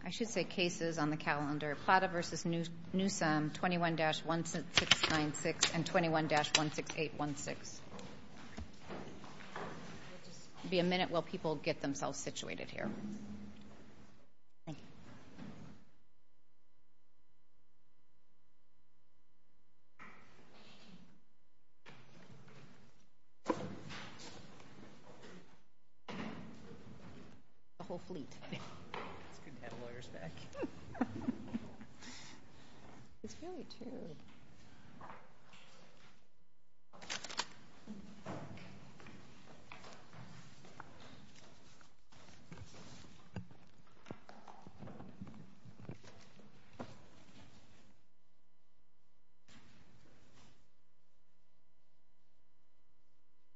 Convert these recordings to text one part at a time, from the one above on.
Plata v. Newsom, 21-1696 and 21-16816. There will be a minute while people get themselves situated here.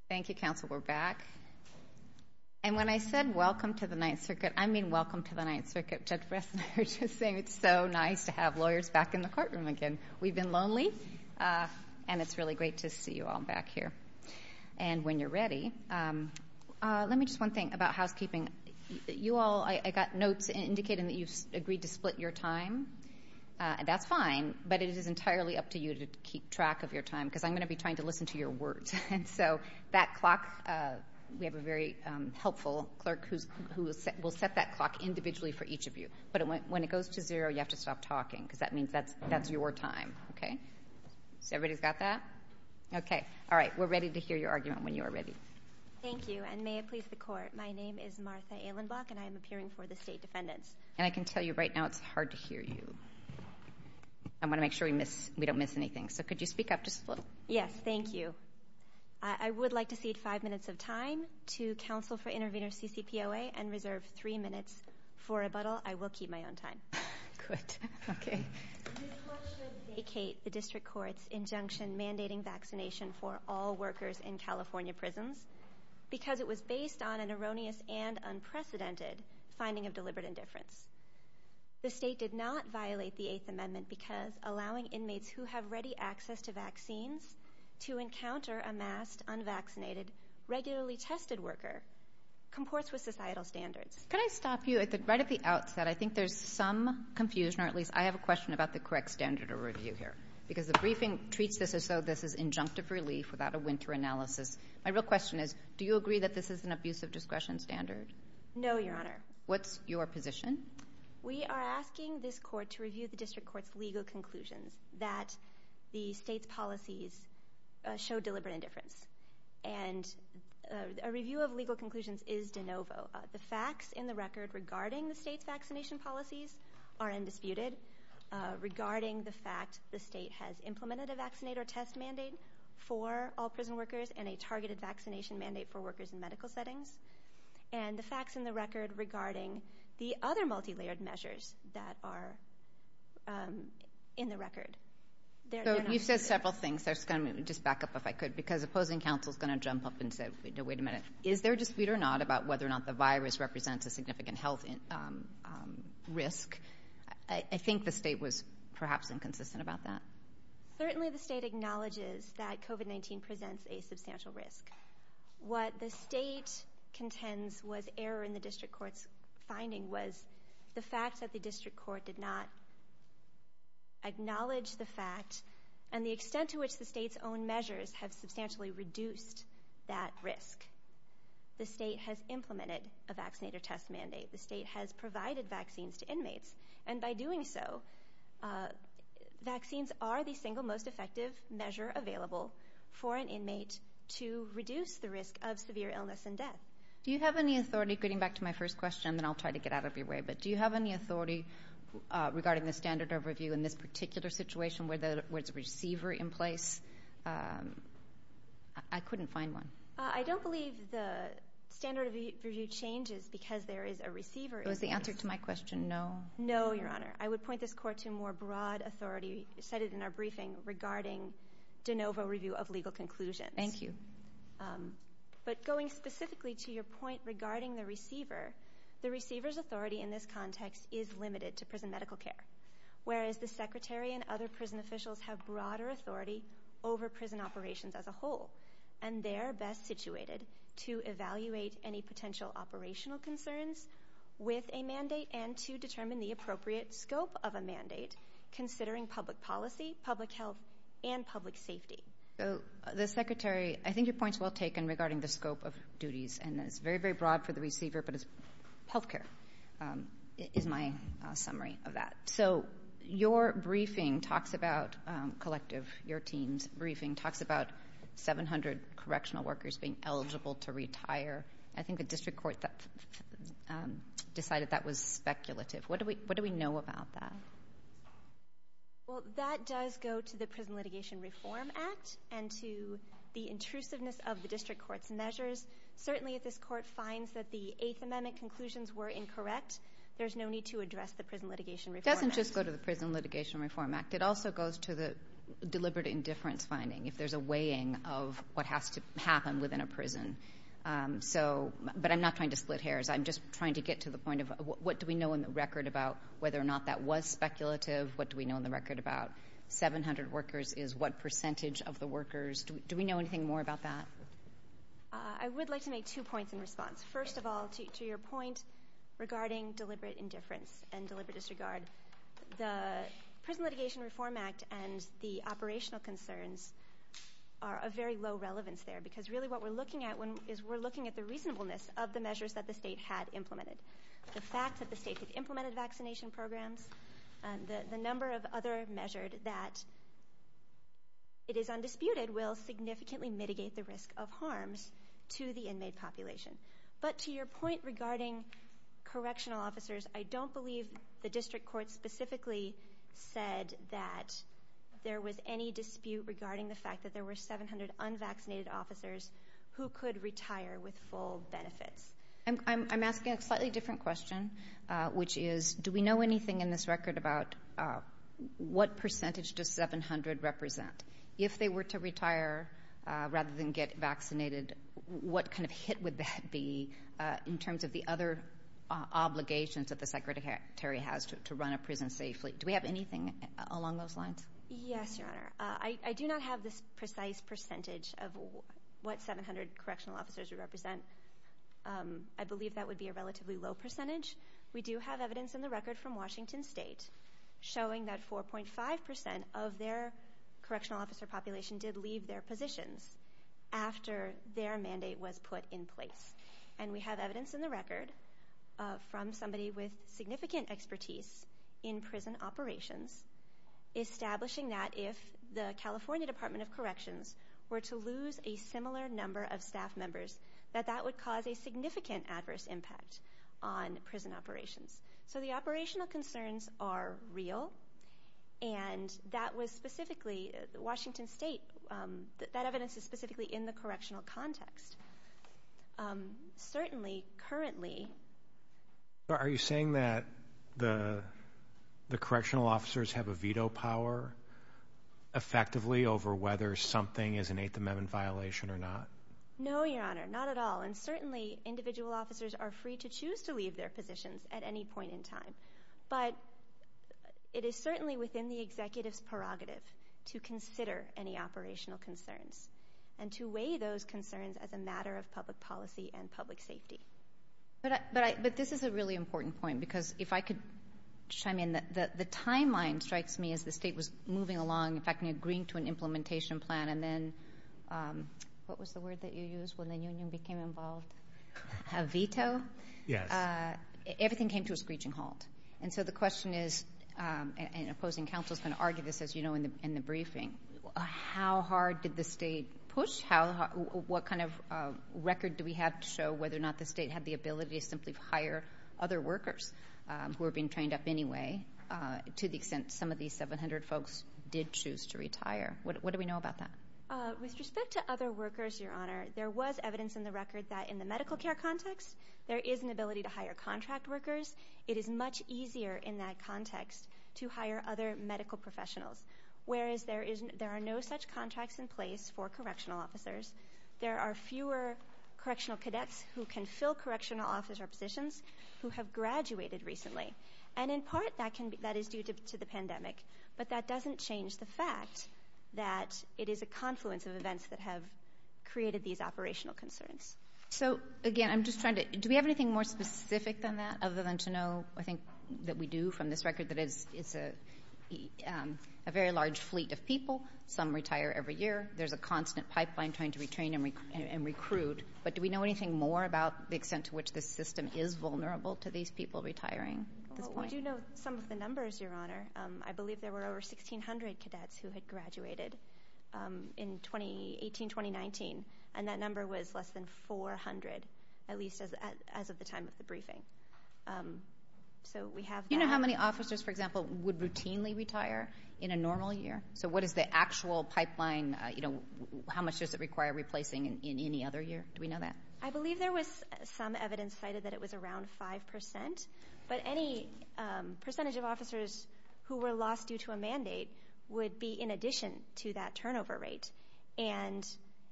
Thank you, Counselor, we're back. And when I said welcome to the Ninth Circuit, I mean welcome to the Ninth Circuit. Judge Bresner is just saying it's so nice to have lawyers back in the courtroom again. We've been lonely and it's really great to see you all back here. And when you're ready, let me just one thing about housekeeping. You all, I got notes indicating that you've agreed to split your time. That's fine, but it is entirely up to you to keep track of your time because I'm going to be trying to listen to your words. And so that clock, we have a very helpful clerk who will set that clock individually for each of you. But when it goes to zero, you have to stop talking because that means that's your time. Okay? So everybody's got that? Okay. All right, we're ready to hear your argument when you are ready. Thank you, and may it please the Court, my name is Martha Ehlenbach and I am appearing for the State Defendants. And I can tell you right now it's hard to hear you. So could you speak up just a little? Yes, thank you. I would like to cede five minutes of time to Counsel for Intervenors, CCPOA, and reserve three minutes for rebuttal. I will keep my own time. Good, okay. This Court should vacate the District Court's injunction mandating vaccination for all workers in California prisons because it was based on an erroneous and unprecedented finding of deliberate indifference. The State did not violate the Eighth Amendment because allowing inmates who have ready access to vaccines to encounter a masked, unvaccinated, regularly tested worker comports with societal standards. Can I stop you right at the outset? I think there's some confusion, or at least I have a question about the correct standard of review here. Because the briefing treats this as though this is injunctive relief without a winter analysis. My real question is, do you agree that this is an abusive discretion standard? No, Your Honor. What's your position? We are asking this Court to review the District Court's legal conclusions that the State's policies show deliberate indifference. And a review of legal conclusions is de novo. The facts in the record regarding the State's vaccination policies are undisputed. Regarding the fact the State has implemented a vaccinator test mandate for all prison workers and a targeted vaccination mandate for workers in medical settings. And the facts in the record regarding the other multilayered measures that are in the record. You've said several things. I'm just going to back up if I could. Because opposing counsel is going to jump up and say, wait a minute, is there a dispute or not about whether or not the virus represents a significant health risk? I think the State was perhaps inconsistent about that. Certainly the State acknowledges that COVID-19 presents a substantial risk. What the State contends was error in the District Court's finding was the fact that the District Court did not acknowledge the fact and the extent to which the State's own measures have substantially reduced that risk. The State has implemented a vaccinator test mandate. The State has provided vaccines to inmates. And by doing so, vaccines are the single most effective measure available for an inmate to reduce the risk of severe illness and death. Do you have any authority, getting back to my first question, and then I'll try to get out of your way, but do you have any authority regarding the standard of review in this particular situation where there's a receiver in place? I couldn't find one. I don't believe the standard of review changes because there is a receiver in place. Was the answer to my question no? No, Your Honor. I would point this Court to a more broad authority cited in our briefing regarding de novo review of legal conclusions. Thank you. But going specifically to your point regarding the receiver, the receiver's authority in this context is limited to prison medical care, whereas the Secretary and other prison officials have broader authority over prison operations as a whole, and they are best situated to evaluate any potential operational concerns with a mandate and to determine the appropriate scope of a mandate considering public policy, public health, and public safety. The Secretary, I think your point's well taken regarding the scope of duties, and it's very, very broad for the receiver, but it's health care is my summary of that. So your briefing talks about collective, your team's briefing talks about 700 correctional workers being eligible to retire. I think the district court decided that was speculative. What do we know about that? Well, that does go to the Prison Litigation Reform Act and to the intrusiveness of the district court's measures. Certainly if this court finds that the Eighth Amendment conclusions were incorrect, there's no need to address the Prison Litigation Reform Act. It doesn't just go to the Prison Litigation Reform Act. It also goes to the deliberate indifference finding if there's a weighing of what has to happen within a prison. But I'm not trying to split hairs. I'm just trying to get to the point of what do we know in the record about whether or not that was speculative? What do we know in the record about 700 workers is what percentage of the workers? Do we know anything more about that? I would like to make two points in response. First of all, to your point regarding deliberate indifference and deliberate disregard, the Prison Litigation Reform Act and the operational concerns are of very low relevance there because really what we're looking at is we're looking at the reasonableness of the measures that the state had implemented. The fact that the state had implemented vaccination programs, the number of other measures that it is undisputed will significantly mitigate the risk of harms to the inmate population. But to your point regarding correctional officers, I don't believe the district court specifically said that there was any dispute regarding the fact that there were 700 unvaccinated officers who could retire with full benefits. I'm asking a slightly different question, which is do we know anything in this record about what percentage does 700 represent? If they were to retire rather than get vaccinated, what kind of hit would that be in terms of the other obligations that the Secretary has to run a prison safely? Do we have anything along those lines? Yes, Your Honor. I do not have this precise percentage of what 700 correctional officers we represent. I believe that would be a relatively low percentage. We do have evidence in the record from Washington State showing that 4.5% of their correctional officer population did leave their positions after their mandate was put in place. And we have evidence in the record from somebody with significant expertise in prison operations establishing that if the California Department of Corrections were to lose a similar number of staff members, that that would cause a significant adverse impact on prison operations. So the operational concerns are real, and that was specifically Washington State. Certainly, currently... Are you saying that the correctional officers have a veto power effectively over whether something is an Eighth Amendment violation or not? No, Your Honor, not at all. And certainly individual officers are free to choose to leave their positions at any point in time. But it is certainly within the executive's prerogative to consider any operational concerns and to weigh those concerns as a matter of public policy and public safety. But this is a really important point, because if I could chime in, the timeline strikes me as the state was moving along, in fact, in agreeing to an implementation plan, and then... What was the word that you used when the union became involved? A veto? Yes. Everything came to a screeching halt. And so the question is, and opposing counsel is going to argue this, as you know, in the briefing, how hard did the state push? What kind of record do we have to show whether or not the state had the ability to simply hire other workers who were being trained up anyway, to the extent some of these 700 folks did choose to retire? What do we know about that? With respect to other workers, Your Honor, there was evidence in the record that in the medical care context, there is an ability to hire contract workers. It is much easier in that context to hire other medical professionals, whereas there are no such contracts in place for correctional officers. There are fewer correctional cadets who can fill correctional officer positions who have graduated recently. And in part, that is due to the pandemic. But that doesn't change the fact that it is a confluence of events that have created these operational concerns. So, again, I'm just trying to... Do we have anything more specific than that, other than to know, I think, that we do from this record that it's a very large fleet of people. Some retire every year. There's a constant pipeline trying to retrain and recruit. But do we know anything more about the extent to which this system is vulnerable to these people retiring? We do know some of the numbers, Your Honor. I believe there were over 1,600 cadets who had graduated in 2018-2019, and that number was less than 400, at least as of the time of the briefing. So we have that. Do you know how many officers, for example, would routinely retire in a normal year? So what is the actual pipeline? How much does it require replacing in any other year? Do we know that? I believe there was some evidence cited that it was around 5%. But any percentage of officers who were lost due to a mandate would be in addition to that turnover rate. And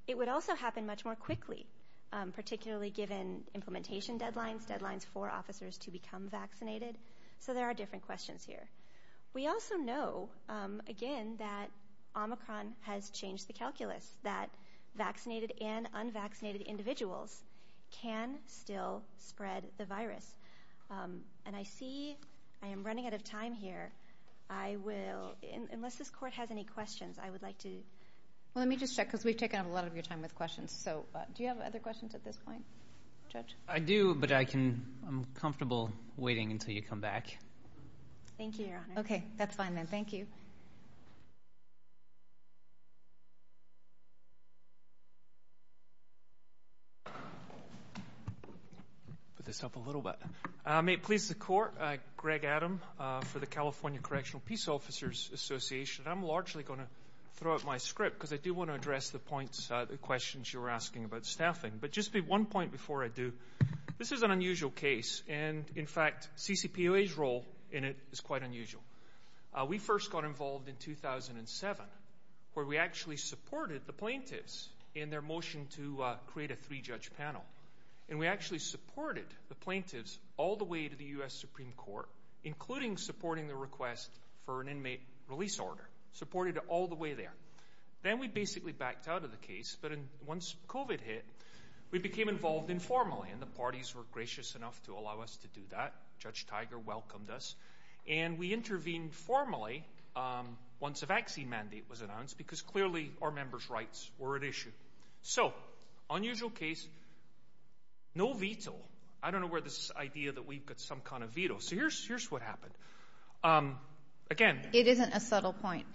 it would also happen much more quickly, particularly given implementation deadlines, deadlines for officers to become vaccinated. So there are different questions here. We also know, again, that Omicron has changed the calculus, that vaccinated and unvaccinated individuals can still spread the virus. And I see I am running out of time here. I will, unless this Court has any questions, I would like to. Well, let me just check because we've taken up a lot of your time with questions. So do you have other questions at this point, Judge? I do, but I'm comfortable waiting until you come back. Thank you, Your Honor. Okay, that's fine then. Thank you. I may please the Court. Greg Adam for the California Correctional Peace Officers Association. I'm largely going to throw out my script because I do want to address the points, the questions you were asking about staffing. But just one point before I do. This is an unusual case, and in fact, CCPOA's role in it is quite unusual. We first got involved in 2007 where we actually supported the plaintiffs in their motion to create a three-judge panel. And we actually supported the plaintiffs all the way to the U.S. Supreme Court, including supporting the request for an inmate release order, supported it all the way there. Then we basically backed out of the case. But once COVID hit, we became involved informally, and the parties were gracious enough to allow us to do that. Judge Tiger welcomed us. And we intervened formally once a vaccine mandate was announced because clearly our members' rights were at issue. So unusual case, no veto. I don't know where this idea that we've got some kind of veto. So here's what happened. Again. It isn't a subtle point.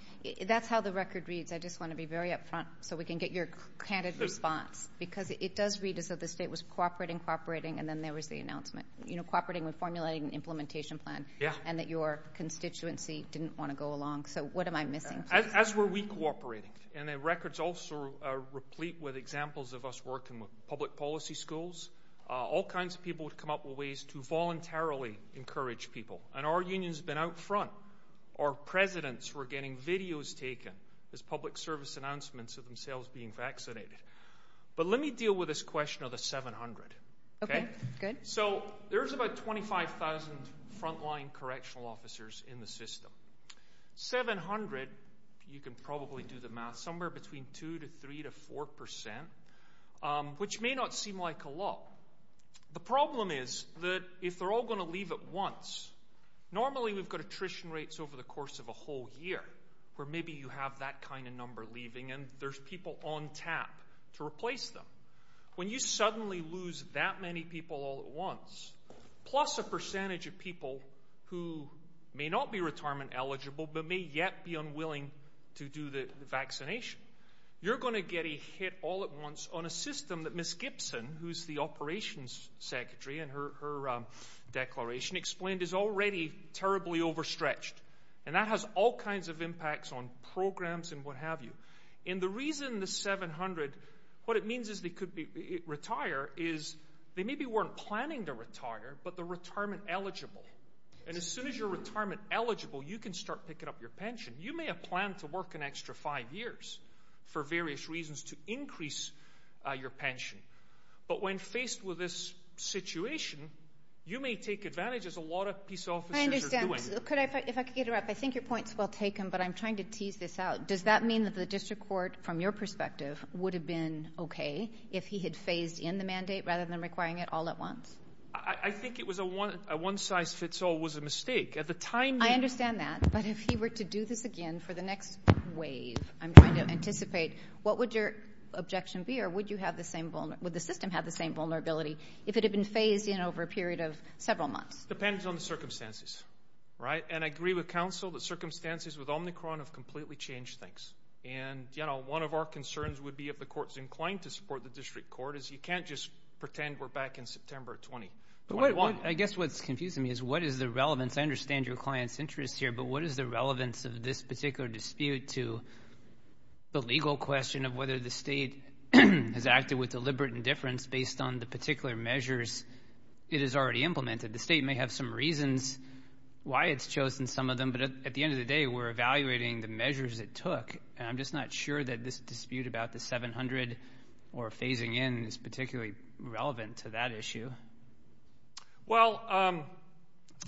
That's how the record reads. I just want to be very up front so we can get your candid response because it does read as though the state was cooperating, cooperating, and then there was the announcement. You know, cooperating with formulating an implementation plan and that your constituency didn't want to go along. So what am I missing? As were we cooperating. And the record's also replete with examples of us working with public policy schools. All kinds of people would come up with ways to voluntarily encourage people. And our union's been out front. Our presidents were getting videos taken as public service announcements of themselves being vaccinated. But let me deal with this question of the 700. So there's about 25,000 frontline correctional officers in the system. 700, you can probably do the math, somewhere between 2% to 3% to 4%, which may not seem like a lot. The problem is that if they're all going to leave at once, normally we've got attrition rates over the course of a whole year where maybe you have that kind of number leaving and there's people on tap to replace them. When you suddenly lose that many people all at once, plus a percentage of people who may not be retirement eligible but may yet be unwilling to do the vaccination, you're going to get a hit all at once on a system that Ms. Gibson, who's the operations secretary in her declaration, explained is already terribly overstretched. And that has all kinds of impacts on programs and what have you. And the reason the 700, what it means is they could retire is they maybe weren't planning to retire but they're retirement eligible. And as soon as you're retirement eligible, you can start picking up your pension. You may have planned to work an extra five years for various reasons to increase your pension. But when faced with this situation, you may take advantage as a lot of peace officers are doing. If I could interrupt, I think your point's well taken, but I'm trying to tease this out. Does that mean that the district court, from your perspective, would have been okay if he had phased in the mandate rather than requiring it all at once? I think a one-size-fits-all was a mistake. I understand that, but if he were to do this again for the next wave, I'm trying to anticipate what would your objection be or would the system have the same vulnerability if it had been phased in over a period of several months? It depends on the circumstances. And I agree with counsel that circumstances with Omicron have completely changed things. And one of our concerns would be if the court's inclined to support the district court is you can't just pretend we're back in September of 2021. I guess what's confusing me is what is the relevance? I understand your client's interest here, but what is the relevance of this particular dispute to the legal question of whether the state has acted with deliberate indifference based on the particular measures it has already implemented? The state may have some reasons why it's chosen some of them, but at the end of the day, we're evaluating the measures it took, and I'm just not sure that this dispute about the 700 or phasing in is particularly relevant to that issue. Well,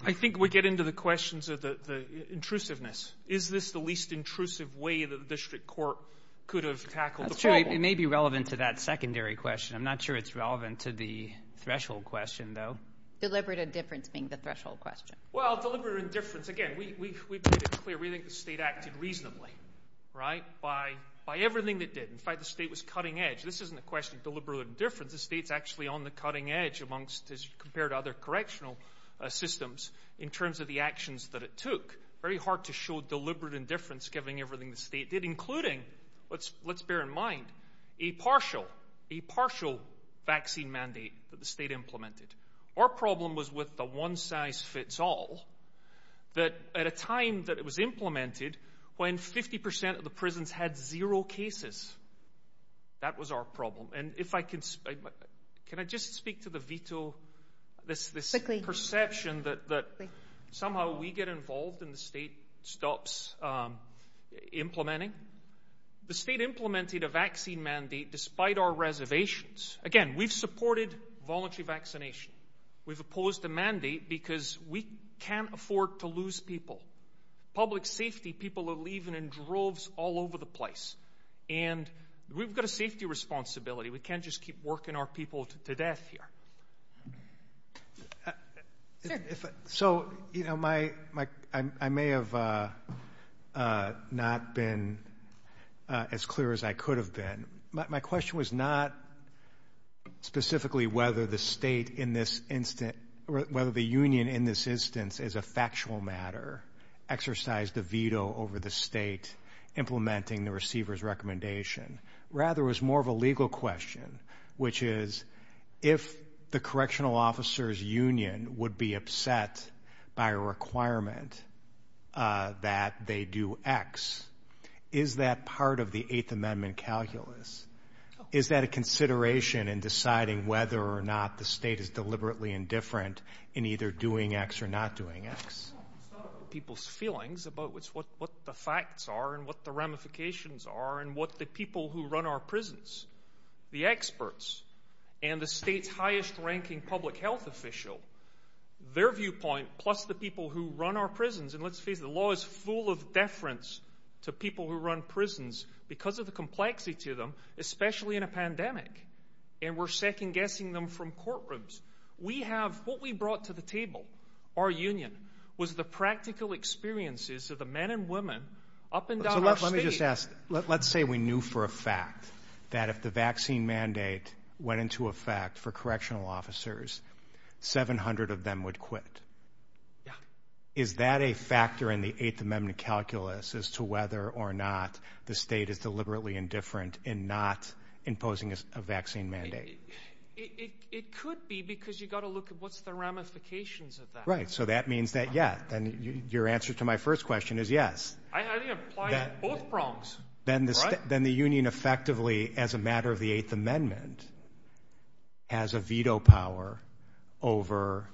I think we get into the questions of the intrusiveness. Is this the least intrusive way that the district court could have tackled the problem? That's right. It may be relevant to that secondary question. I'm not sure it's relevant to the threshold question, though. Deliberate indifference being the threshold question. Well, deliberate indifference, again, we've made it clear. We think the state acted reasonably, right, by everything it did. In fact, the state was cutting edge. This isn't a question of deliberate indifference. The state's actually on the cutting edge compared to other correctional systems in terms of the actions that it took. Very hard to show deliberate indifference given everything the state did, including, let's bear in mind, a partial vaccine mandate that the state implemented. Our problem was with the one-size-fits-all, that at a time that it was implemented when 50% of the prisons had zero cases. That was our problem. Can I just speak to the veto, this perception that somehow we get involved and the state stops implementing? The state implemented a vaccine mandate despite our reservations. Again, we've supported voluntary vaccination. We've opposed the mandate because we can't afford to lose people. Public safety people are leaving in droves all over the place. We've got a safety responsibility. We can't just keep working our people to death here. I may have not been as clear as I could have been. My question was not specifically whether the union in this instance is a factual matter, exercised a veto over the state implementing the receiver's recommendation. Rather, it was more of a legal question, which is if the correctional officer's union would be upset by a requirement that they do X, is that part of the Eighth Amendment calculus? Is that a consideration in deciding whether or not the state is deliberately indifferent in either doing X or not doing X? It's not about people's feelings. It's about what the facts are and what the ramifications are and what the people who run our prisons, the experts, and the state's highest-ranking public health official, their viewpoint plus the people who run our prisons. Let's face it, the law is full of deference to people who run prisons because of the complexity of them, especially in a pandemic. We're second-guessing them from courtrooms. What we brought to the table, our union, was the practical experiences of the men and women up and down our state. Let me just ask. Let's say we knew for a fact that if the vaccine mandate went into effect for correctional officers, 700 of them would quit. Is that a factor in the Eighth Amendment calculus as to whether or not the state is deliberately indifferent in not imposing a vaccine mandate? It could be because you've got to look at what's the ramifications of that. Right, so that means that, yeah, your answer to my first question is yes. I think it applies to both prongs. Then the union effectively, as a matter of the Eighth Amendment, has a veto power over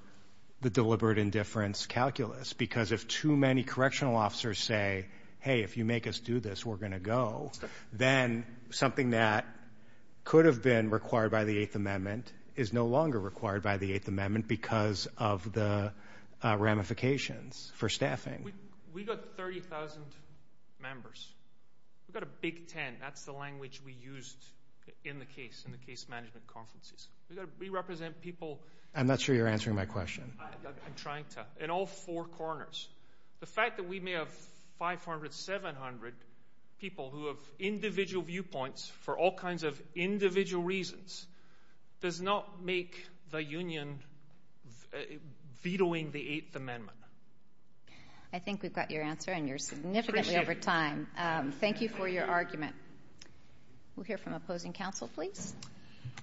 the deliberate indifference calculus because if too many correctional officers say, hey, if you make us do this, we're going to go, then something that could have been required by the Eighth Amendment is no longer required by the Eighth Amendment because of the ramifications for staffing. We've got 30,000 members. We've got a Big Ten. That's the language we used in the case, in the case management conferences. We've got to re-represent people. I'm not sure you're answering my question. I'm trying to. In all four corners. The fact that we may have 500, 700 people who have individual viewpoints for all kinds of individual reasons does not make the union vetoing the Eighth Amendment. I think we've got your answer, and you're significantly over time. Thank you for your argument. We'll hear from opposing counsel, please.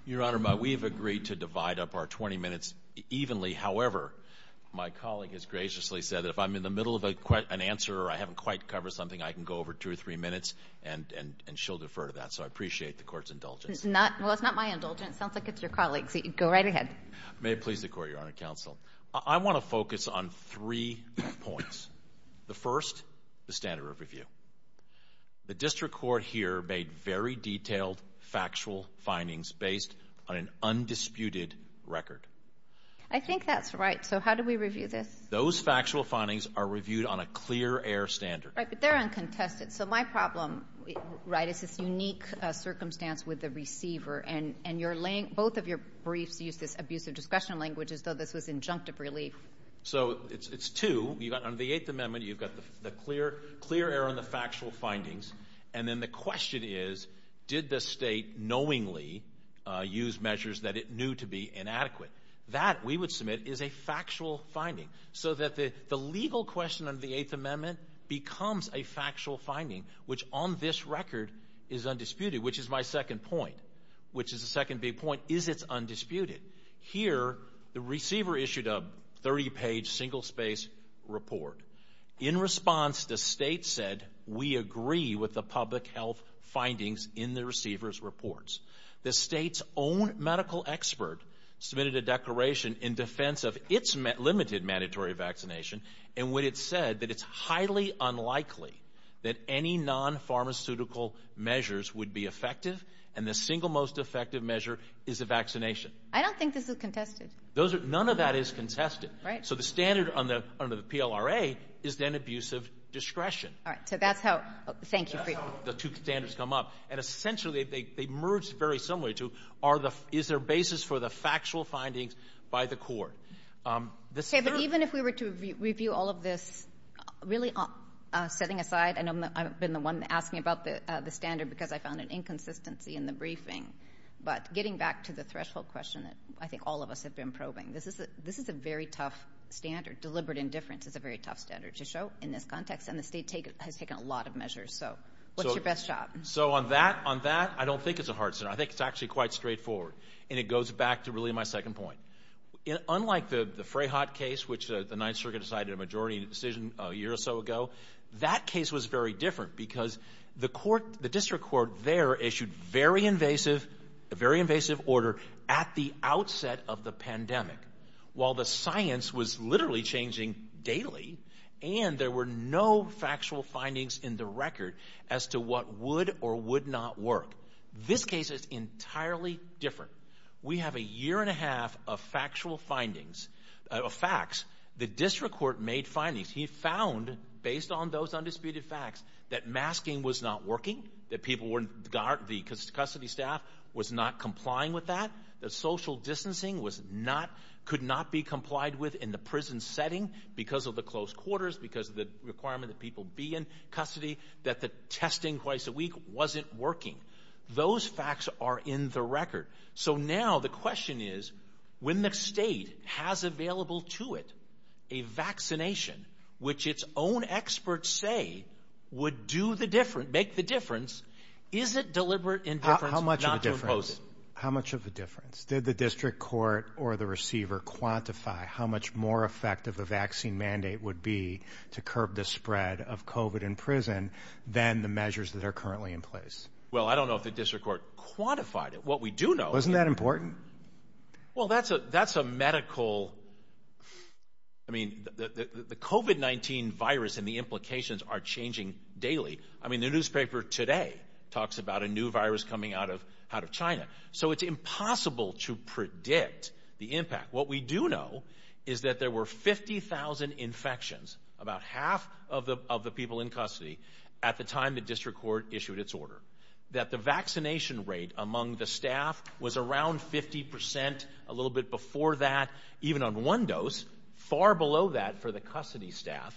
Your Honor, we've agreed to divide up our 20 minutes evenly. However, my colleague has graciously said that if I'm in the middle of an answer or I haven't quite covered something, I can go over two or three minutes, and she'll defer to that. So I appreciate the Court's indulgence. Well, it's not my indulgence. It sounds like it's your colleague's. Go right ahead. May it please the Court, Your Honor, counsel. I want to focus on three points. The first, the standard of review. The district court here made very detailed factual findings based on an undisputed record. I think that's right. So how do we review this? Those factual findings are reviewed on a clear-air standard. Right, but they're uncontested. So my problem, right, is this unique circumstance with the receiver, and both of your briefs use this abusive discussion language as though this was injunctive relief. So it's two. On the Eighth Amendment, you've got the clear error on the factual findings, and then the question is, did the state knowingly use measures that it knew to be inadequate? That, we would submit, is a factual finding. So that the legal question under the Eighth Amendment becomes a factual finding, which on this record is undisputed, which is my second point, which is the second big point. Is it undisputed? Here, the receiver issued a 30-page, single-space report. In response, the state said, we agree with the public health findings in the receiver's reports. The state's own medical expert submitted a declaration in defense of its limited mandatory vaccination, and when it said that it's highly unlikely that any non-pharmaceutical measures would be effective, and the single most effective measure is a vaccination. I don't think this is contested. None of that is contested. So the standard under the PLRA is then abusive discretion. All right, so that's how the two standards come up, and essentially they merge very similarly to, is there a basis for the factual findings by the court? Okay, but even if we were to review all of this, really setting aside, I know I've been the one asking about the standard because I found an inconsistency in the briefing, but getting back to the threshold question that I think all of us have been probing, this is a very tough standard. Deliberate indifference is a very tough standard to show in this context, and the state has taken a lot of measures. So what's your best shot? So on that, I don't think it's a hard standard. I think it's actually quite straightforward, and it goes back to really my second point. Unlike the Freyhaut case, which the Ninth Circuit decided a majority decision a year or so ago, that case was very different because the court, the district court there, issued a very invasive order at the outset of the pandemic. While the science was literally changing daily, and there were no factual findings in the record as to what would or would not work, this case is entirely different. We have a year and a half of factual findings, of facts. The district court made findings. He found, based on those undisputed facts, that masking was not working, that the custody staff was not complying with that, that social distancing could not be complied with in the prison setting because of the close quarters, because of the requirement that people be in custody, that the testing twice a week wasn't working. Those facts are in the record. So now the question is, when the state has available to it a vaccination, which its own experts say would do the difference, make the difference, is it deliberate indifference not to impose it? How much of a difference? Did the district court or the receiver quantify how much more effective a vaccine mandate would be to curb the spread of COVID in prison than the measures that are currently in place? Well, I don't know if the district court quantified it. But what we do know... Wasn't that important? Well, that's a medical... I mean, the COVID-19 virus and the implications are changing daily. I mean, the newspaper today talks about a new virus coming out of China. So it's impossible to predict the impact. What we do know is that there were 50,000 infections, about half of the people in custody, at the time the district court issued its order. That the vaccination rate among the staff was around 50%, a little bit before that, even on one dose, far below that for the custody staff.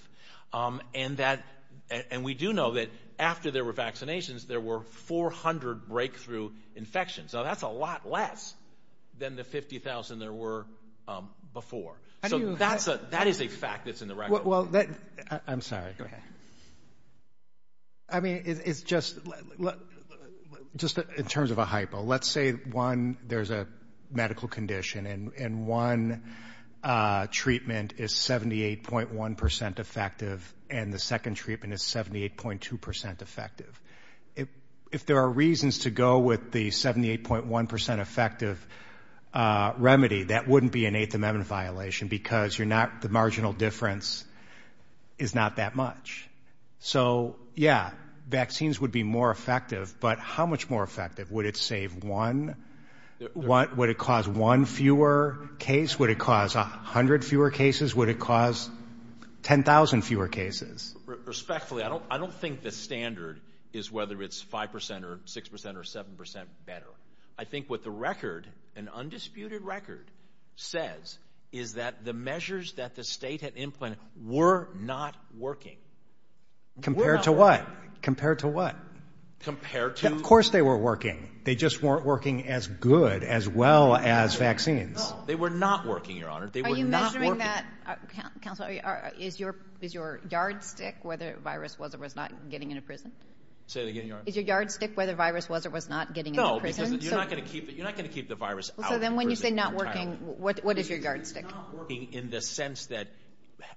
And we do know that after there were vaccinations, there were 400 breakthrough infections. So that's a lot less than the 50,000 there were before. So that is a fact that's in the record. I'm sorry. Go ahead. I mean, it's just... Just in terms of a hypo. Let's say, one, there's a medical condition and one treatment is 78.1% effective and the second treatment is 78.2% effective. If there are reasons to go with the 78.1% effective remedy, that wouldn't be an Eighth Amendment violation because the marginal difference is not that much. So, yeah, vaccines would be more effective. But how much more effective? Would it save one? Would it cause one fewer case? Would it cause 100 fewer cases? Would it cause 10,000 fewer cases? Respectfully, I don't think the standard is whether it's 5% or 6% or 7% better. I think what the record, an undisputed record, says is that the measures that the state had implemented were not working. Compared to what? Compared to what? Compared to... Of course they were working. They just weren't working as good as well as vaccines. No, they were not working, Your Honor. They were not working. Are you measuring that, Counselor? Is your yardstick whether the virus was or was not getting into prison? Say that again, Your Honor. Is your yardstick whether the virus was or was not getting into prison? No, because you're not going to keep the virus out of prison entirely. So then when you say not working, what is your yardstick? It's not working in the sense that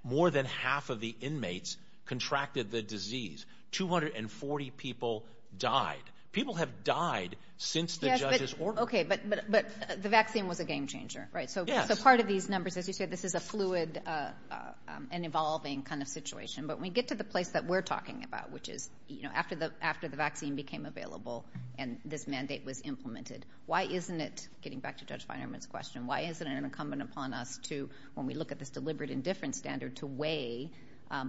more than half of the inmates contracted the disease. 240 people died. People have died since the judge's order. Okay, but the vaccine was a game changer, right? Yes. So part of these numbers, as you said, this is a fluid and evolving kind of situation. But when we get to the place that we're talking about, which is after the vaccine became available and this mandate was implemented, why isn't it, getting back to Judge Finerman's question, why isn't it incumbent upon us to, when we look at this deliberate indifference standard, to weigh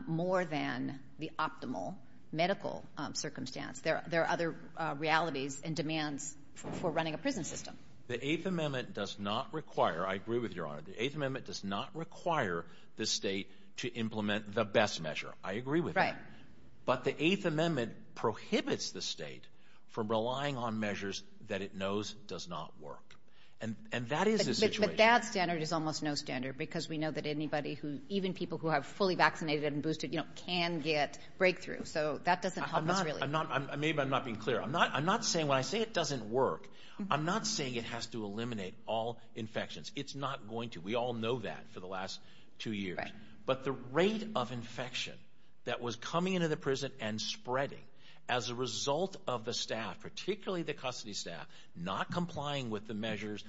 more than the optimal medical circumstance? There are other realities and demands for running a prison system. The Eighth Amendment does not require, I agree with you, Your Honor, the Eighth Amendment does not require the state to implement the best measure. I agree with that. But the Eighth Amendment prohibits the state from relying on measures that it knows does not work. And that is the situation. But that standard is almost no standard because we know that anybody who, even people who have fully vaccinated and boosted can get breakthrough. So that doesn't help us really. Maybe I'm not being clear. I'm not saying when I say it doesn't work, I'm not saying it has to eliminate all infections. It's not going to. We all know that for the last two years. But the rate of infection that was coming into the prison and spreading as a result of the staff, particularly the custody staff, not complying with the measures,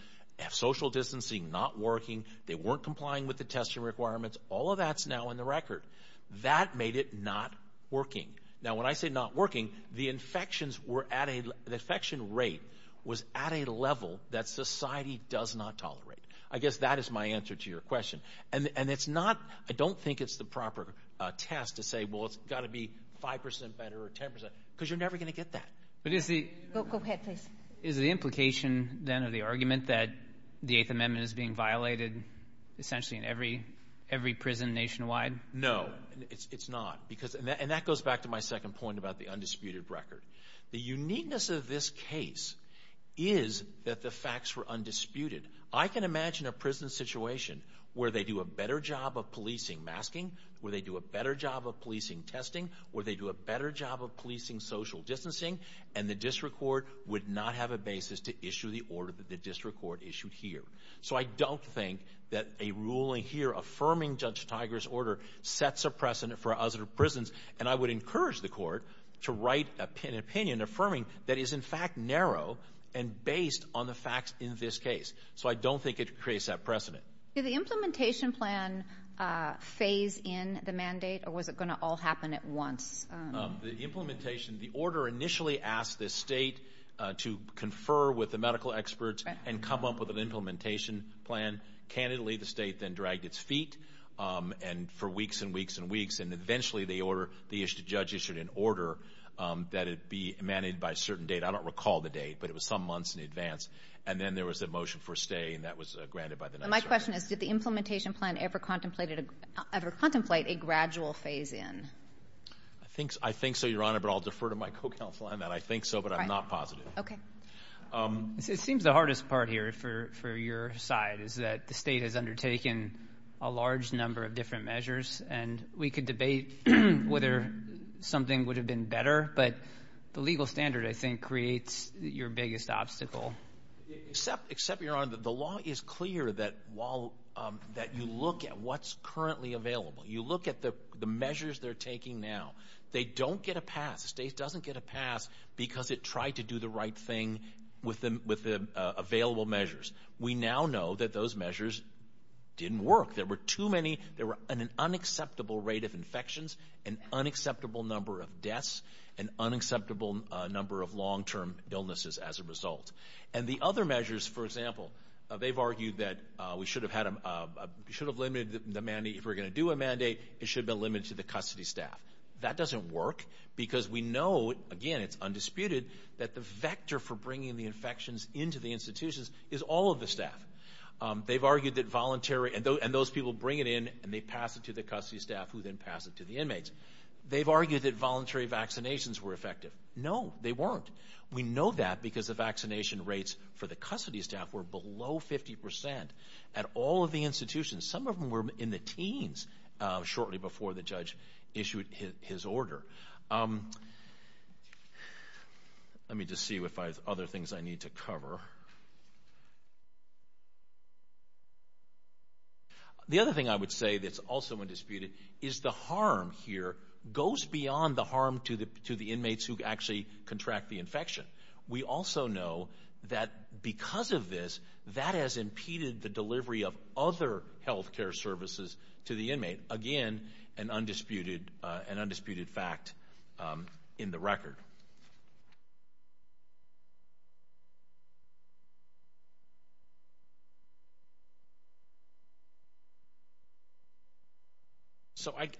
social distancing not working, they weren't complying with the testing requirements, all of that's now in the record. That made it not working. Now, when I say not working, the infections were at a – the infection rate was at a level that society does not tolerate. I guess that is my answer to your question. And it's not – I don't think it's the proper test to say, well, it's got to be 5% better or 10% because you're never going to get that. But is the – Go ahead, please. Is the implication then of the argument that the Eighth Amendment is being violated essentially in every prison nationwide? No, it's not. And that goes back to my second point about the undisputed record. The uniqueness of this case is that the facts were undisputed. I can imagine a prison situation where they do a better job of policing masking, where they do a better job of policing testing, where they do a better job of policing social distancing, and the district court would not have a basis to issue the order that the district court issued here. So I don't think that a ruling here affirming Judge Tiger's order sets a precedent for other prisons. And I would encourage the court to write an opinion affirming that is, in fact, narrow and based on the facts in this case. So I don't think it creates that precedent. Did the implementation plan phase in the mandate, or was it going to all happen at once? The implementation, the order initially asked the state to confer with the medical experts and come up with an implementation plan. Candidly, the state then dragged its feet for weeks and weeks and weeks, and eventually the judge issued an order that it be mandated by a certain date. I don't recall the date, but it was some months in advance. And then there was a motion for a stay, and that was granted by the next order. My question is, did the implementation plan ever contemplate a gradual phase in? I think so, Your Honor, but I'll defer to my co-counsel on that. I think so, but I'm not positive. Okay. It seems the hardest part here for your side is that the state has undertaken a large number of different measures, and we could debate whether something would have been better, but the legal standard, I think, creates your biggest obstacle. Except, Your Honor, the law is clear that you look at what's currently available. You look at the measures they're taking now. They don't get a pass. The state doesn't get a pass because it tried to do the right thing with the available measures. We now know that those measures didn't work. There were too many. There were an unacceptable rate of infections, an unacceptable number of deaths, an unacceptable number of long-term illnesses as a result. And the other measures, for example, they've argued that we should have limited the mandate. If we're going to do a mandate, it should have been limited to the custody staff. That doesn't work because we know, again, it's undisputed, that the vector for bringing the infections into the institutions is all of the staff. They've argued that voluntary, and those people bring it in, and they pass it to the custody staff, who then pass it to the inmates. They've argued that voluntary vaccinations were effective. No, they weren't. We know that because the vaccination rates for the custody staff were below 50% at all of the institutions. Some of them were in the teens, shortly before the judge issued his order. Let me just see if I have other things I need to cover. The other thing I would say that's also undisputed is the harm here goes beyond the harm to the inmates who actually contract the infection. We also know that because of this, that has impeded the delivery of other health care services to the inmate. Again, an undisputed fact in the record.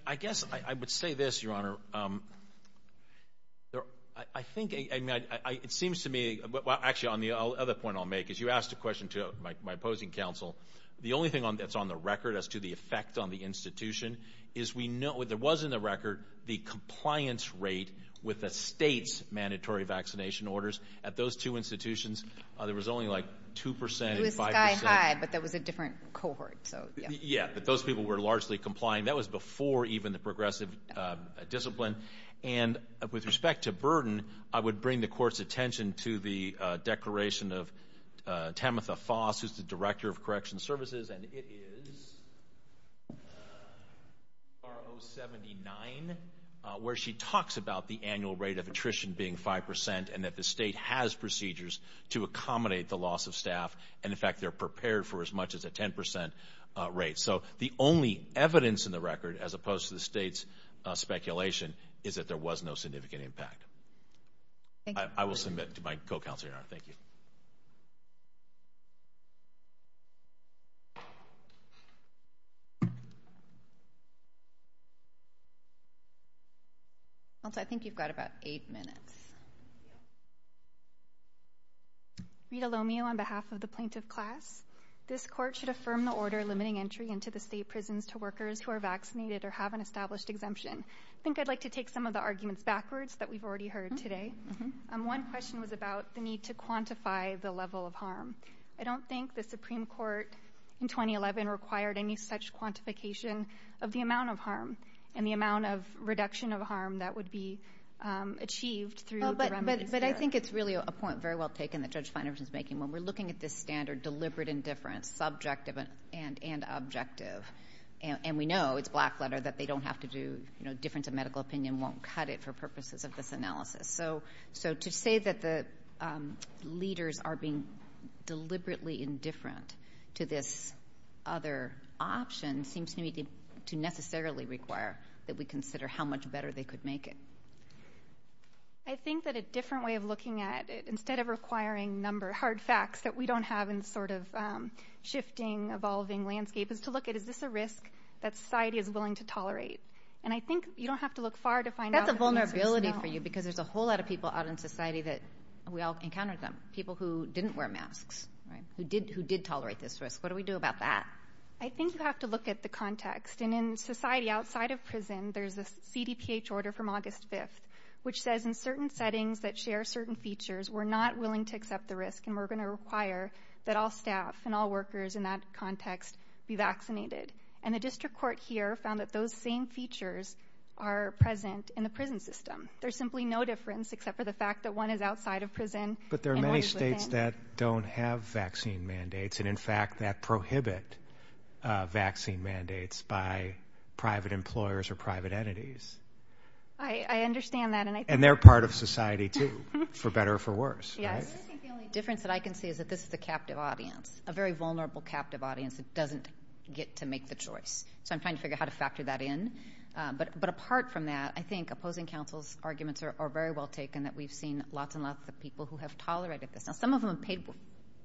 I guess I would say this, Your Honor. It seems to me, actually, on the other point I'll make, is you asked a question to my opposing counsel. The only thing that's on the record as to the effect on the institution is we know, there was in the record the compliance rate with the state's mandatory vaccination orders. At those two institutions, there was only like 2% and 5%. It was sky high, but that was a different cohort. Yeah, but those people were largely complying. That was before even the progressive discipline. And with respect to burden, I would bring the Court's attention to the declaration of Tamitha Foss, who's the Director of Correction Services, and it is R079, where she talks about the annual rate of attrition being 5% and that the state has procedures to accommodate the loss of staff. And, in fact, they're prepared for as much as a 10% rate. So the only evidence in the record, as opposed to the state's speculation, is that there was no significant impact. I will submit to my co-counsel, Your Honor. Thank you. I think you've got about eight minutes. Rita Lomeo on behalf of the plaintiff class. This Court should affirm the order limiting entry into the state prisons to workers who are vaccinated or have an established exemption. I think I'd like to take some of the arguments backwards that we've already heard today. One question was about the need to quantify the level of harm. I don't think the Supreme Court in 2011 required any such quantification of the amount of harm and the amount of reduction of harm that would be achieved through the remedies there. But I think it's really a point very well taken that Judge Finer is making. When we're looking at this standard, deliberate indifference, subjective and objective, and we know it's black letter that they don't have to do, you know, difference of medical opinion won't cut it for purposes of this analysis. So to say that the leaders are being deliberately indifferent to this other option seems to me to necessarily require that we consider how much better they could make it. I think that a different way of looking at it, instead of requiring hard facts that we don't have in sort of shifting, evolving landscape, is to look at is this a risk that society is willing to tolerate. And I think you don't have to look far to find out. What's the vulnerability for you? Because there's a whole lot of people out in society that we all encounter them, people who didn't wear masks, who did tolerate this risk. What do we do about that? I think you have to look at the context. And in society outside of prison, there's a CDPH order from August 5th, which says in certain settings that share certain features, we're not willing to accept the risk and we're going to require that all staff and all workers in that context be vaccinated. And the district court here found that those same features are present in the prison system. There's simply no difference except for the fact that one is outside of prison and one is within. But there are many states that don't have vaccine mandates and, in fact, that prohibit vaccine mandates by private employers or private entities. I understand that. And they're part of society, too, for better or for worse. Yes. I think the only difference that I can see is that this is a captive audience, a very vulnerable captive audience that doesn't get to make the choice. So I'm trying to figure out how to factor that in. But apart from that, I think opposing counsel's arguments are very well taken, that we've seen lots and lots of people who have tolerated this. Now, some of them have paid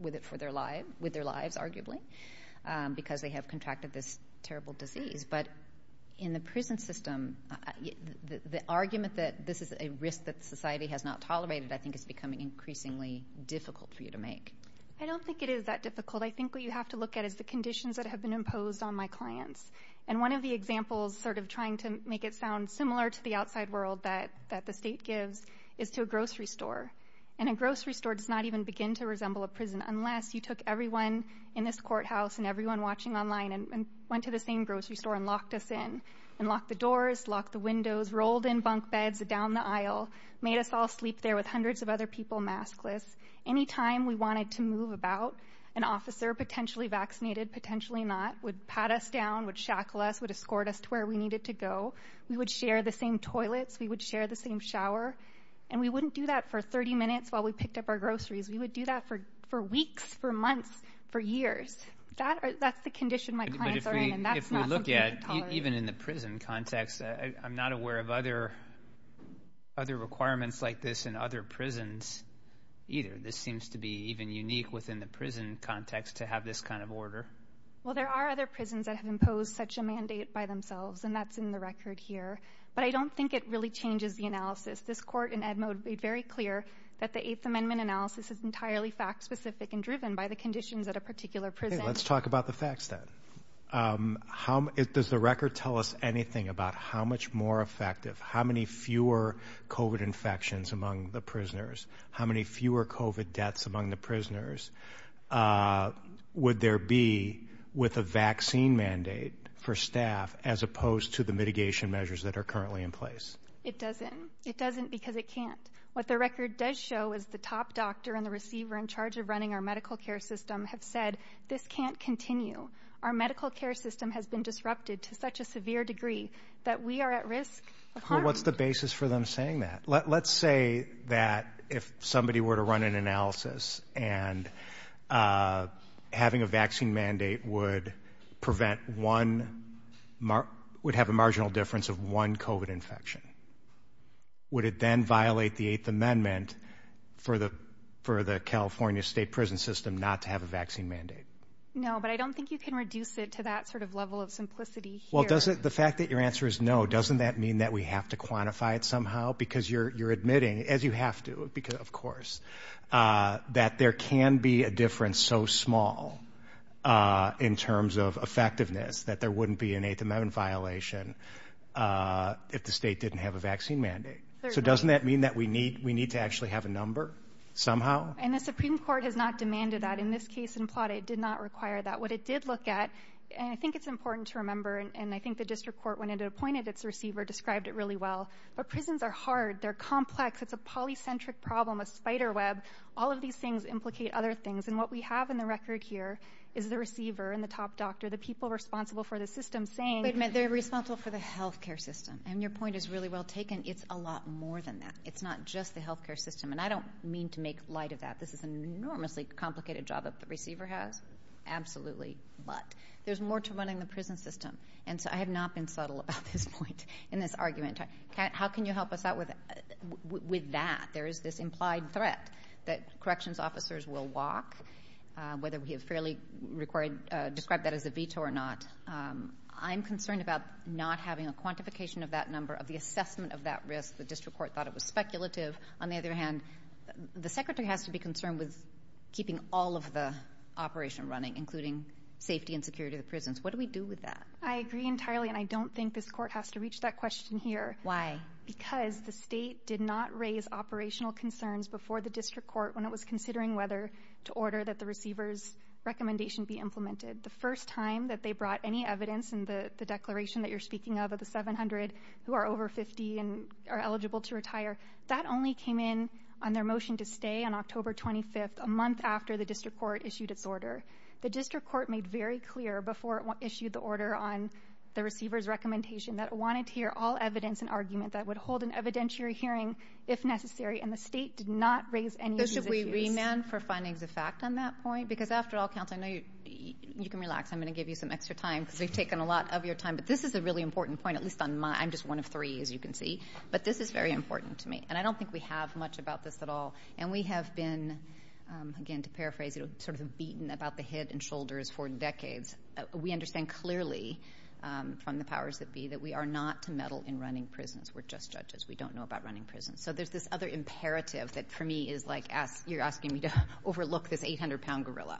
with their lives, arguably, because they have contracted this terrible disease. But in the prison system, the argument that this is a risk that society has not tolerated, I think is becoming increasingly difficult for you to make. I don't think it is that difficult. I think what you have to look at is the conditions that have been imposed on my clients. And one of the examples, sort of trying to make it sound similar to the outside world that the state gives, is to a grocery store. And a grocery store does not even begin to resemble a prison unless you took everyone in this courthouse and everyone watching online and went to the same grocery store and locked us in and locked the doors, locked the windows, rolled in bunk beds down the aisle, made us all sleep there with hundreds of other people maskless. Any time we wanted to move about, an officer, potentially vaccinated, potentially not, would pat us down, would shackle us, would escort us to where we needed to go. We would share the same toilets. We would share the same shower. And we wouldn't do that for 30 minutes while we picked up our groceries. We would do that for weeks, for months, for years. That's the condition my clients are in, and that's not something we can tolerate. Even in the prison context, I'm not aware of other requirements like this in other prisons either. This seems to be even unique within the prison context to have this kind of order. Well, there are other prisons that have imposed such a mandate by themselves, and that's in the record here. But I don't think it really changes the analysis. This court in Edmode made very clear that the Eighth Amendment analysis is entirely fact-specific and driven by the conditions at a particular prison. Let's talk about the facts then. Does the record tell us anything about how much more effective, how many fewer COVID infections among the prisoners, how many fewer COVID deaths among the prisoners would there be with a vaccine mandate for staff as opposed to the mitigation measures that are currently in place? It doesn't. It doesn't because it can't. What the record does show is the top doctor and the receiver in charge of running our medical care system have said this can't continue. Our medical care system has been disrupted to such a severe degree that we are at risk of harm. Well, what's the basis for them saying that? Let's say that if somebody were to run an analysis and having a vaccine mandate would have a marginal difference of one COVID infection. Would it then violate the Eighth Amendment for the California state prison system not to have a vaccine mandate? No, but I don't think you can reduce it to that sort of level of simplicity here. Well, the fact that your answer is no, doesn't that mean that we have to quantify it somehow? Because you're admitting, as you have to, of course, that there can be a difference so small in terms of effectiveness that there wouldn't be an Eighth Amendment violation if the state didn't have a vaccine mandate. So doesn't that mean that we need to actually have a number somehow? And the Supreme Court has not demanded that. In this case in Plata, it did not require that. What it did look at, and I think it's important to remember, and I think the district court, when it appointed its receiver, described it really well, but prisons are hard. They're complex. It's a polycentric problem, a spider web. All of these things implicate other things, and what we have in the record here is the receiver and the top doctor, the people responsible for the system, saying— Wait a minute. They're responsible for the health care system, and your point is really well taken. It's a lot more than that. It's not just the health care system, and I don't mean to make light of that. This is an enormously complicated job that the receiver has. Absolutely. But there's more to running the prison system, and so I have not been subtle about this point in this argument. How can you help us out with that? There is this implied threat that corrections officers will walk, whether we have fairly described that as a veto or not. I'm concerned about not having a quantification of that number, of the assessment of that risk. The district court thought it was speculative. On the other hand, the secretary has to be concerned with keeping all of the operation running, including safety and security of the prisons. What do we do with that? I agree entirely, and I don't think this court has to reach that question here. Why? Because the state did not raise operational concerns before the district court when it was considering whether to order that the receiver's recommendation be implemented. The first time that they brought any evidence in the declaration that you're speaking of, the 700 who are over 50 and are eligible to retire, that only came in on their motion to stay on October 25th, a month after the district court issued its order. The district court made very clear before it issued the order on the receiver's recommendation that it wanted to hear all evidence and argument that would hold an evidentiary hearing if necessary, and the state did not raise any of these issues. So should we remand for findings of fact on that point? Because after all, counsel, I know you can relax. I'm going to give you some extra time because we've taken a lot of your time, but this is a really important point, at least on my end. I'm just one of three, as you can see. But this is very important to me, and I don't think we have much about this at all. And we have been, again, to paraphrase, sort of beaten about the head and shoulders for decades. We understand clearly from the powers that be that we are not to meddle in running prisons. We're just judges. We don't know about running prisons. So there's this other imperative that, for me, is like you're asking me to overlook this 800-pound gorilla.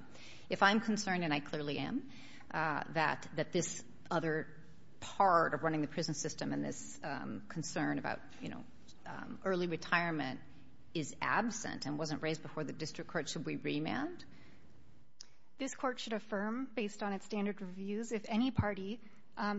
If I'm concerned, and I clearly am, that this other part of running the prison system and this concern about early retirement is absent and wasn't raised before the district court, should we remand? This court should affirm, based on its standard reviews, if any party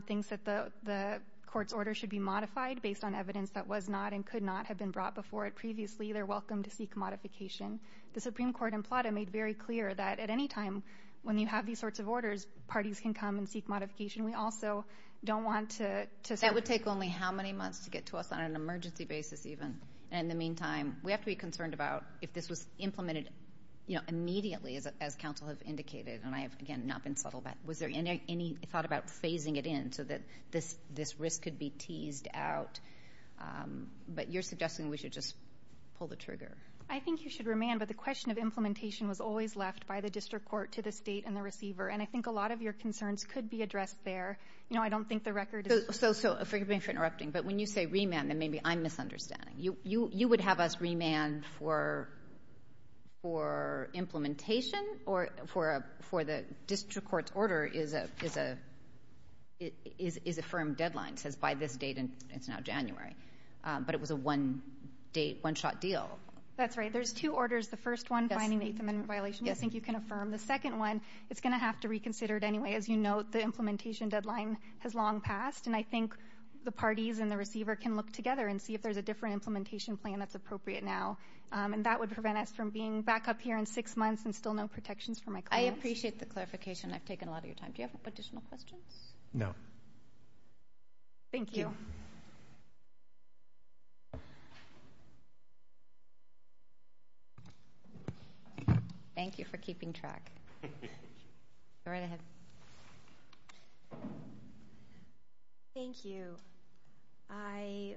thinks that the court's order should be modified based on evidence that was not and could not have been brought before it previously, they're welcome to seek modification. The Supreme Court in Plata made very clear that at any time, when you have these sorts of orders, parties can come and seek modification. We also don't want to say. That would take only how many months to get to us on an emergency basis, even? And in the meantime, we have to be concerned about if this was implemented immediately, as counsel have indicated, and I have, again, not been subtle about it. Was there any thought about phasing it in so that this risk could be teased out? But you're suggesting we should just pull the trigger. I think you should remand, but the question of implementation was always left by the district court to the state and the receiver, and I think a lot of your concerns could be addressed there. You know, I don't think the record is. So forgive me for interrupting, but when you say remand, then maybe I'm misunderstanding. You would have us remand for implementation or for the district court's order is a firm deadline. It says by this date, and it's now January. But it was a one-shot deal. That's right. There's two orders. The first one, finding the eighth amendment violation, I think you can affirm. The second one, it's going to have to reconsider it anyway. As you note, the implementation deadline has long passed, and I think the parties and the receiver can look together and see if there's a different implementation plan that's appropriate now, and that would prevent us from being back up here in six months and still no protections for my clients. I appreciate the clarification. I've taken a lot of your time. Do you have additional questions? No. Thank you. Thank you for keeping track. Go right ahead. Thank you. I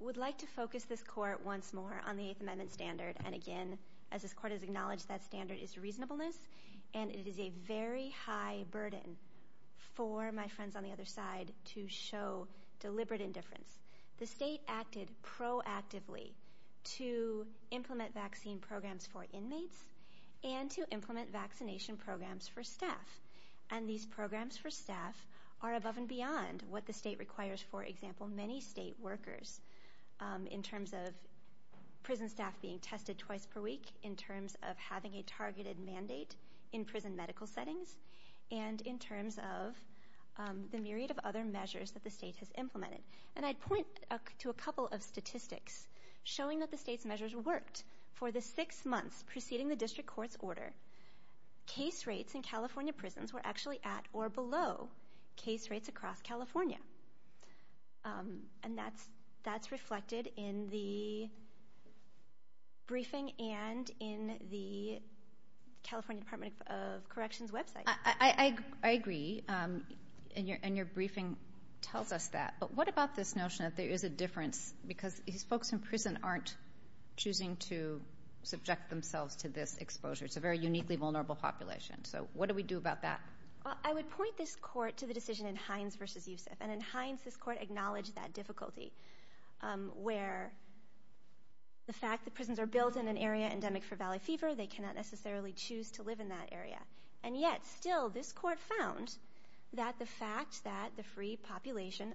would like to focus this court once more on the eighth amendment standard, and again, as this court has acknowledged, that standard is reasonableness, and it is a very high burden for my friends on the other side to show deliberate indifference. The state acted proactively to implement vaccine programs for inmates and to implement vaccination programs for staff, and these programs for staff are above and beyond what the state requires, for example, many state workers in terms of prison staff being tested twice per week, in terms of having a targeted mandate in prison medical settings, and in terms of the myriad of other measures that the state has implemented. And I'd point to a couple of statistics showing that the state's measures worked. For the six months preceding the district court's order, case rates in California prisons were actually at or below case rates across California, and that's reflected in the briefing and in the California Department of Corrections website. I agree, and your briefing tells us that. But what about this notion that there is a difference because these folks in prison aren't choosing to subject themselves to this exposure? It's a very uniquely vulnerable population. So what do we do about that? I would point this court to the decision in Hines v. Youssef, and in Hines this court acknowledged that difficulty, where the fact that prisons are built in an area endemic for valley fever, they cannot necessarily choose to live in that area. And yet still this court found that the fact that the free population,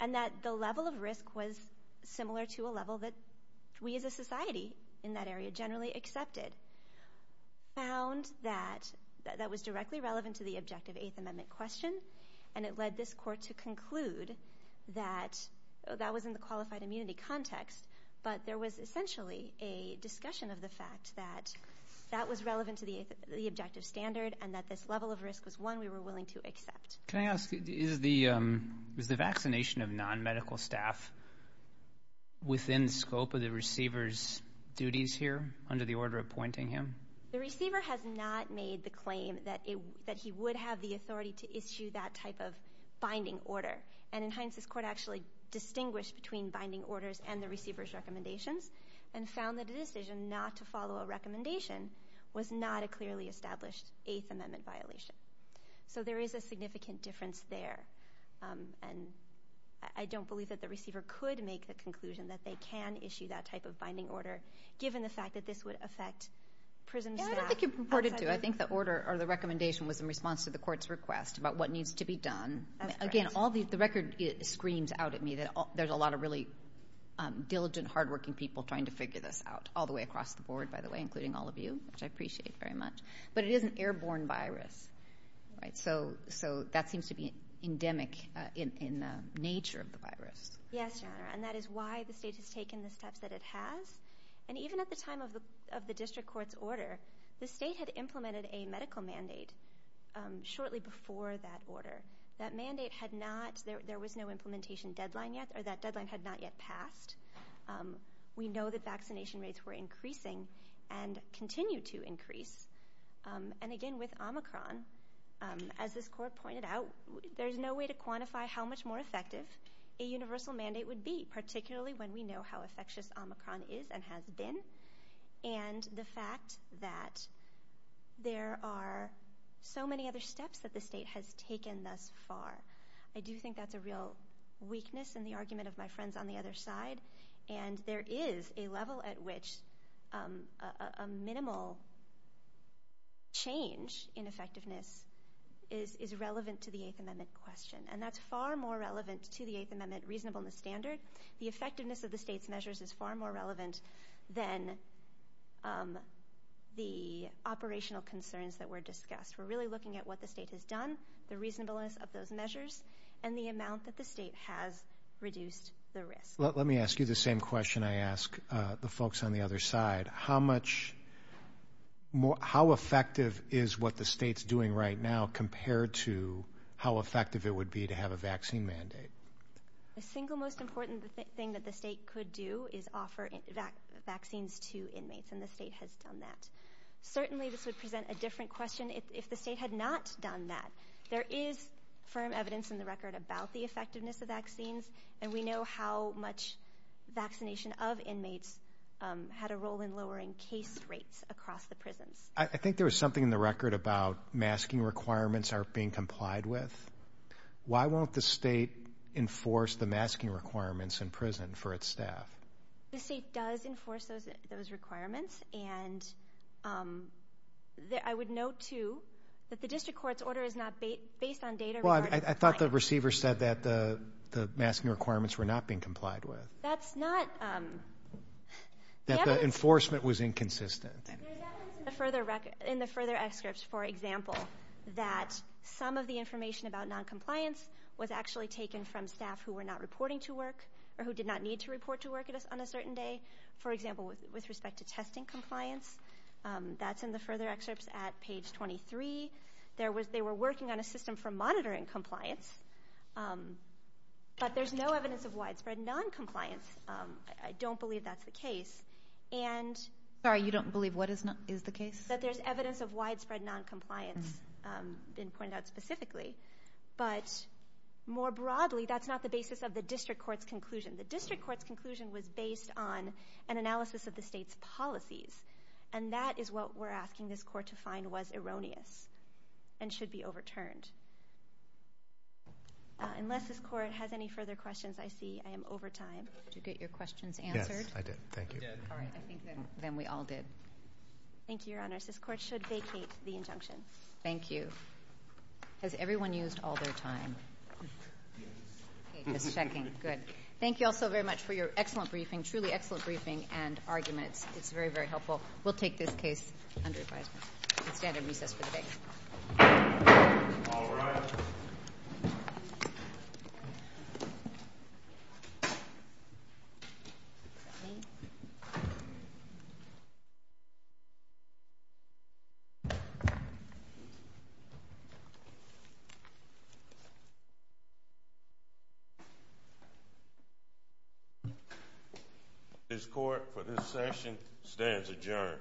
and that the level of risk was similar to a level that we as a society in that area generally accepted, found that that was directly relevant to the objective Eighth Amendment question, and it led this court to conclude that that was in the qualified immunity context, but there was essentially a discussion of the fact that that was relevant to the objective standard and that this level of risk was one we were willing to accept. Can I ask, is the vaccination of non-medical staff within the scope of the receiver's duties here under the order appointing him? The receiver has not made the claim that he would have the authority to issue that type of binding order, and in Hines this court actually distinguished between binding orders and the receiver's recommendations and found that a decision not to follow a recommendation was not a clearly established Eighth Amendment violation. So there is a significant difference there, and I don't believe that the receiver could make the conclusion that they can issue that type of binding order given the fact that this would affect prison staff. I don't think you're purported to. I think the order or the recommendation was in response to the court's request about what needs to be done. Again, the record screams out at me that there's a lot of really diligent, hardworking people trying to figure this out all the way across the board, by the way, including all of you, which I appreciate very much. But it is an airborne virus, right? So that seems to be endemic in the nature of the virus. Yes, Your Honor, and that is why the state has taken the steps that it has. And even at the time of the district court's order, the state had implemented a medical mandate shortly before that order. That mandate had not – there was no implementation deadline yet, or that deadline had not yet passed. We know that vaccination rates were increasing and continue to increase. And again, with Omicron, as this court pointed out, there's no way to quantify how much more effective a universal mandate would be, particularly when we know how infectious Omicron is and has been, and the fact that there are so many other steps that the state has taken thus far. I do think that's a real weakness in the argument of my friends on the other side. And there is a level at which a minimal change in effectiveness is relevant to the Eighth Amendment question. And that's far more relevant to the Eighth Amendment reasonableness standard. The effectiveness of the state's measures is far more relevant than the operational concerns that were discussed. We're really looking at what the state has done, the reasonableness of those measures, and the amount that the state has reduced the risk. Let me ask you the same question I ask the folks on the other side. How much more – how effective is what the state's doing right now compared to how effective it would be to have a vaccine mandate? The single most important thing that the state could do is offer vaccines to inmates, and the state has done that. Certainly this would present a different question if the state had not done that. There is firm evidence in the record about the effectiveness of vaccines, and we know how much vaccination of inmates had a role in lowering case rates across the prisons. I think there was something in the record about masking requirements are being complied with. Why won't the state enforce the masking requirements in prison for its staff? The state does enforce those requirements, and I would note, too, that the district court's order is not based on data. Well, I thought the receiver said that the masking requirements were not being complied with. That's not – That the enforcement was inconsistent. There's evidence in the further excerpts, for example, that some of the information about noncompliance was actually taken from staff who were not reporting to work or who did not need to report to work on a certain day. For example, with respect to testing compliance, that's in the further excerpts at page 23. They were working on a system for monitoring compliance, but there's no evidence of widespread noncompliance. I don't believe that's the case. Sorry, you don't believe what is the case? That there's evidence of widespread noncompliance been pointed out specifically, but more broadly, that's not the basis of the district court's conclusion. The district court's conclusion was based on an analysis of the state's policies, and that is what we're asking this court to find was erroneous and should be overturned. Unless this court has any further questions, I see I am over time. Did you get your questions answered? Yes, I did. Thank you. All right, I think then we all did. Thank you, Your Honor. This court should vacate the injunction. Thank you. Has everyone used all their time? Okay, just checking. Good. Thank you all so very much for your excellent briefing, truly excellent briefing and arguments. It's very, very helpful. We'll take this case under advisement. You can stand and recess for the day. All rise. This court for this session stands adjourned.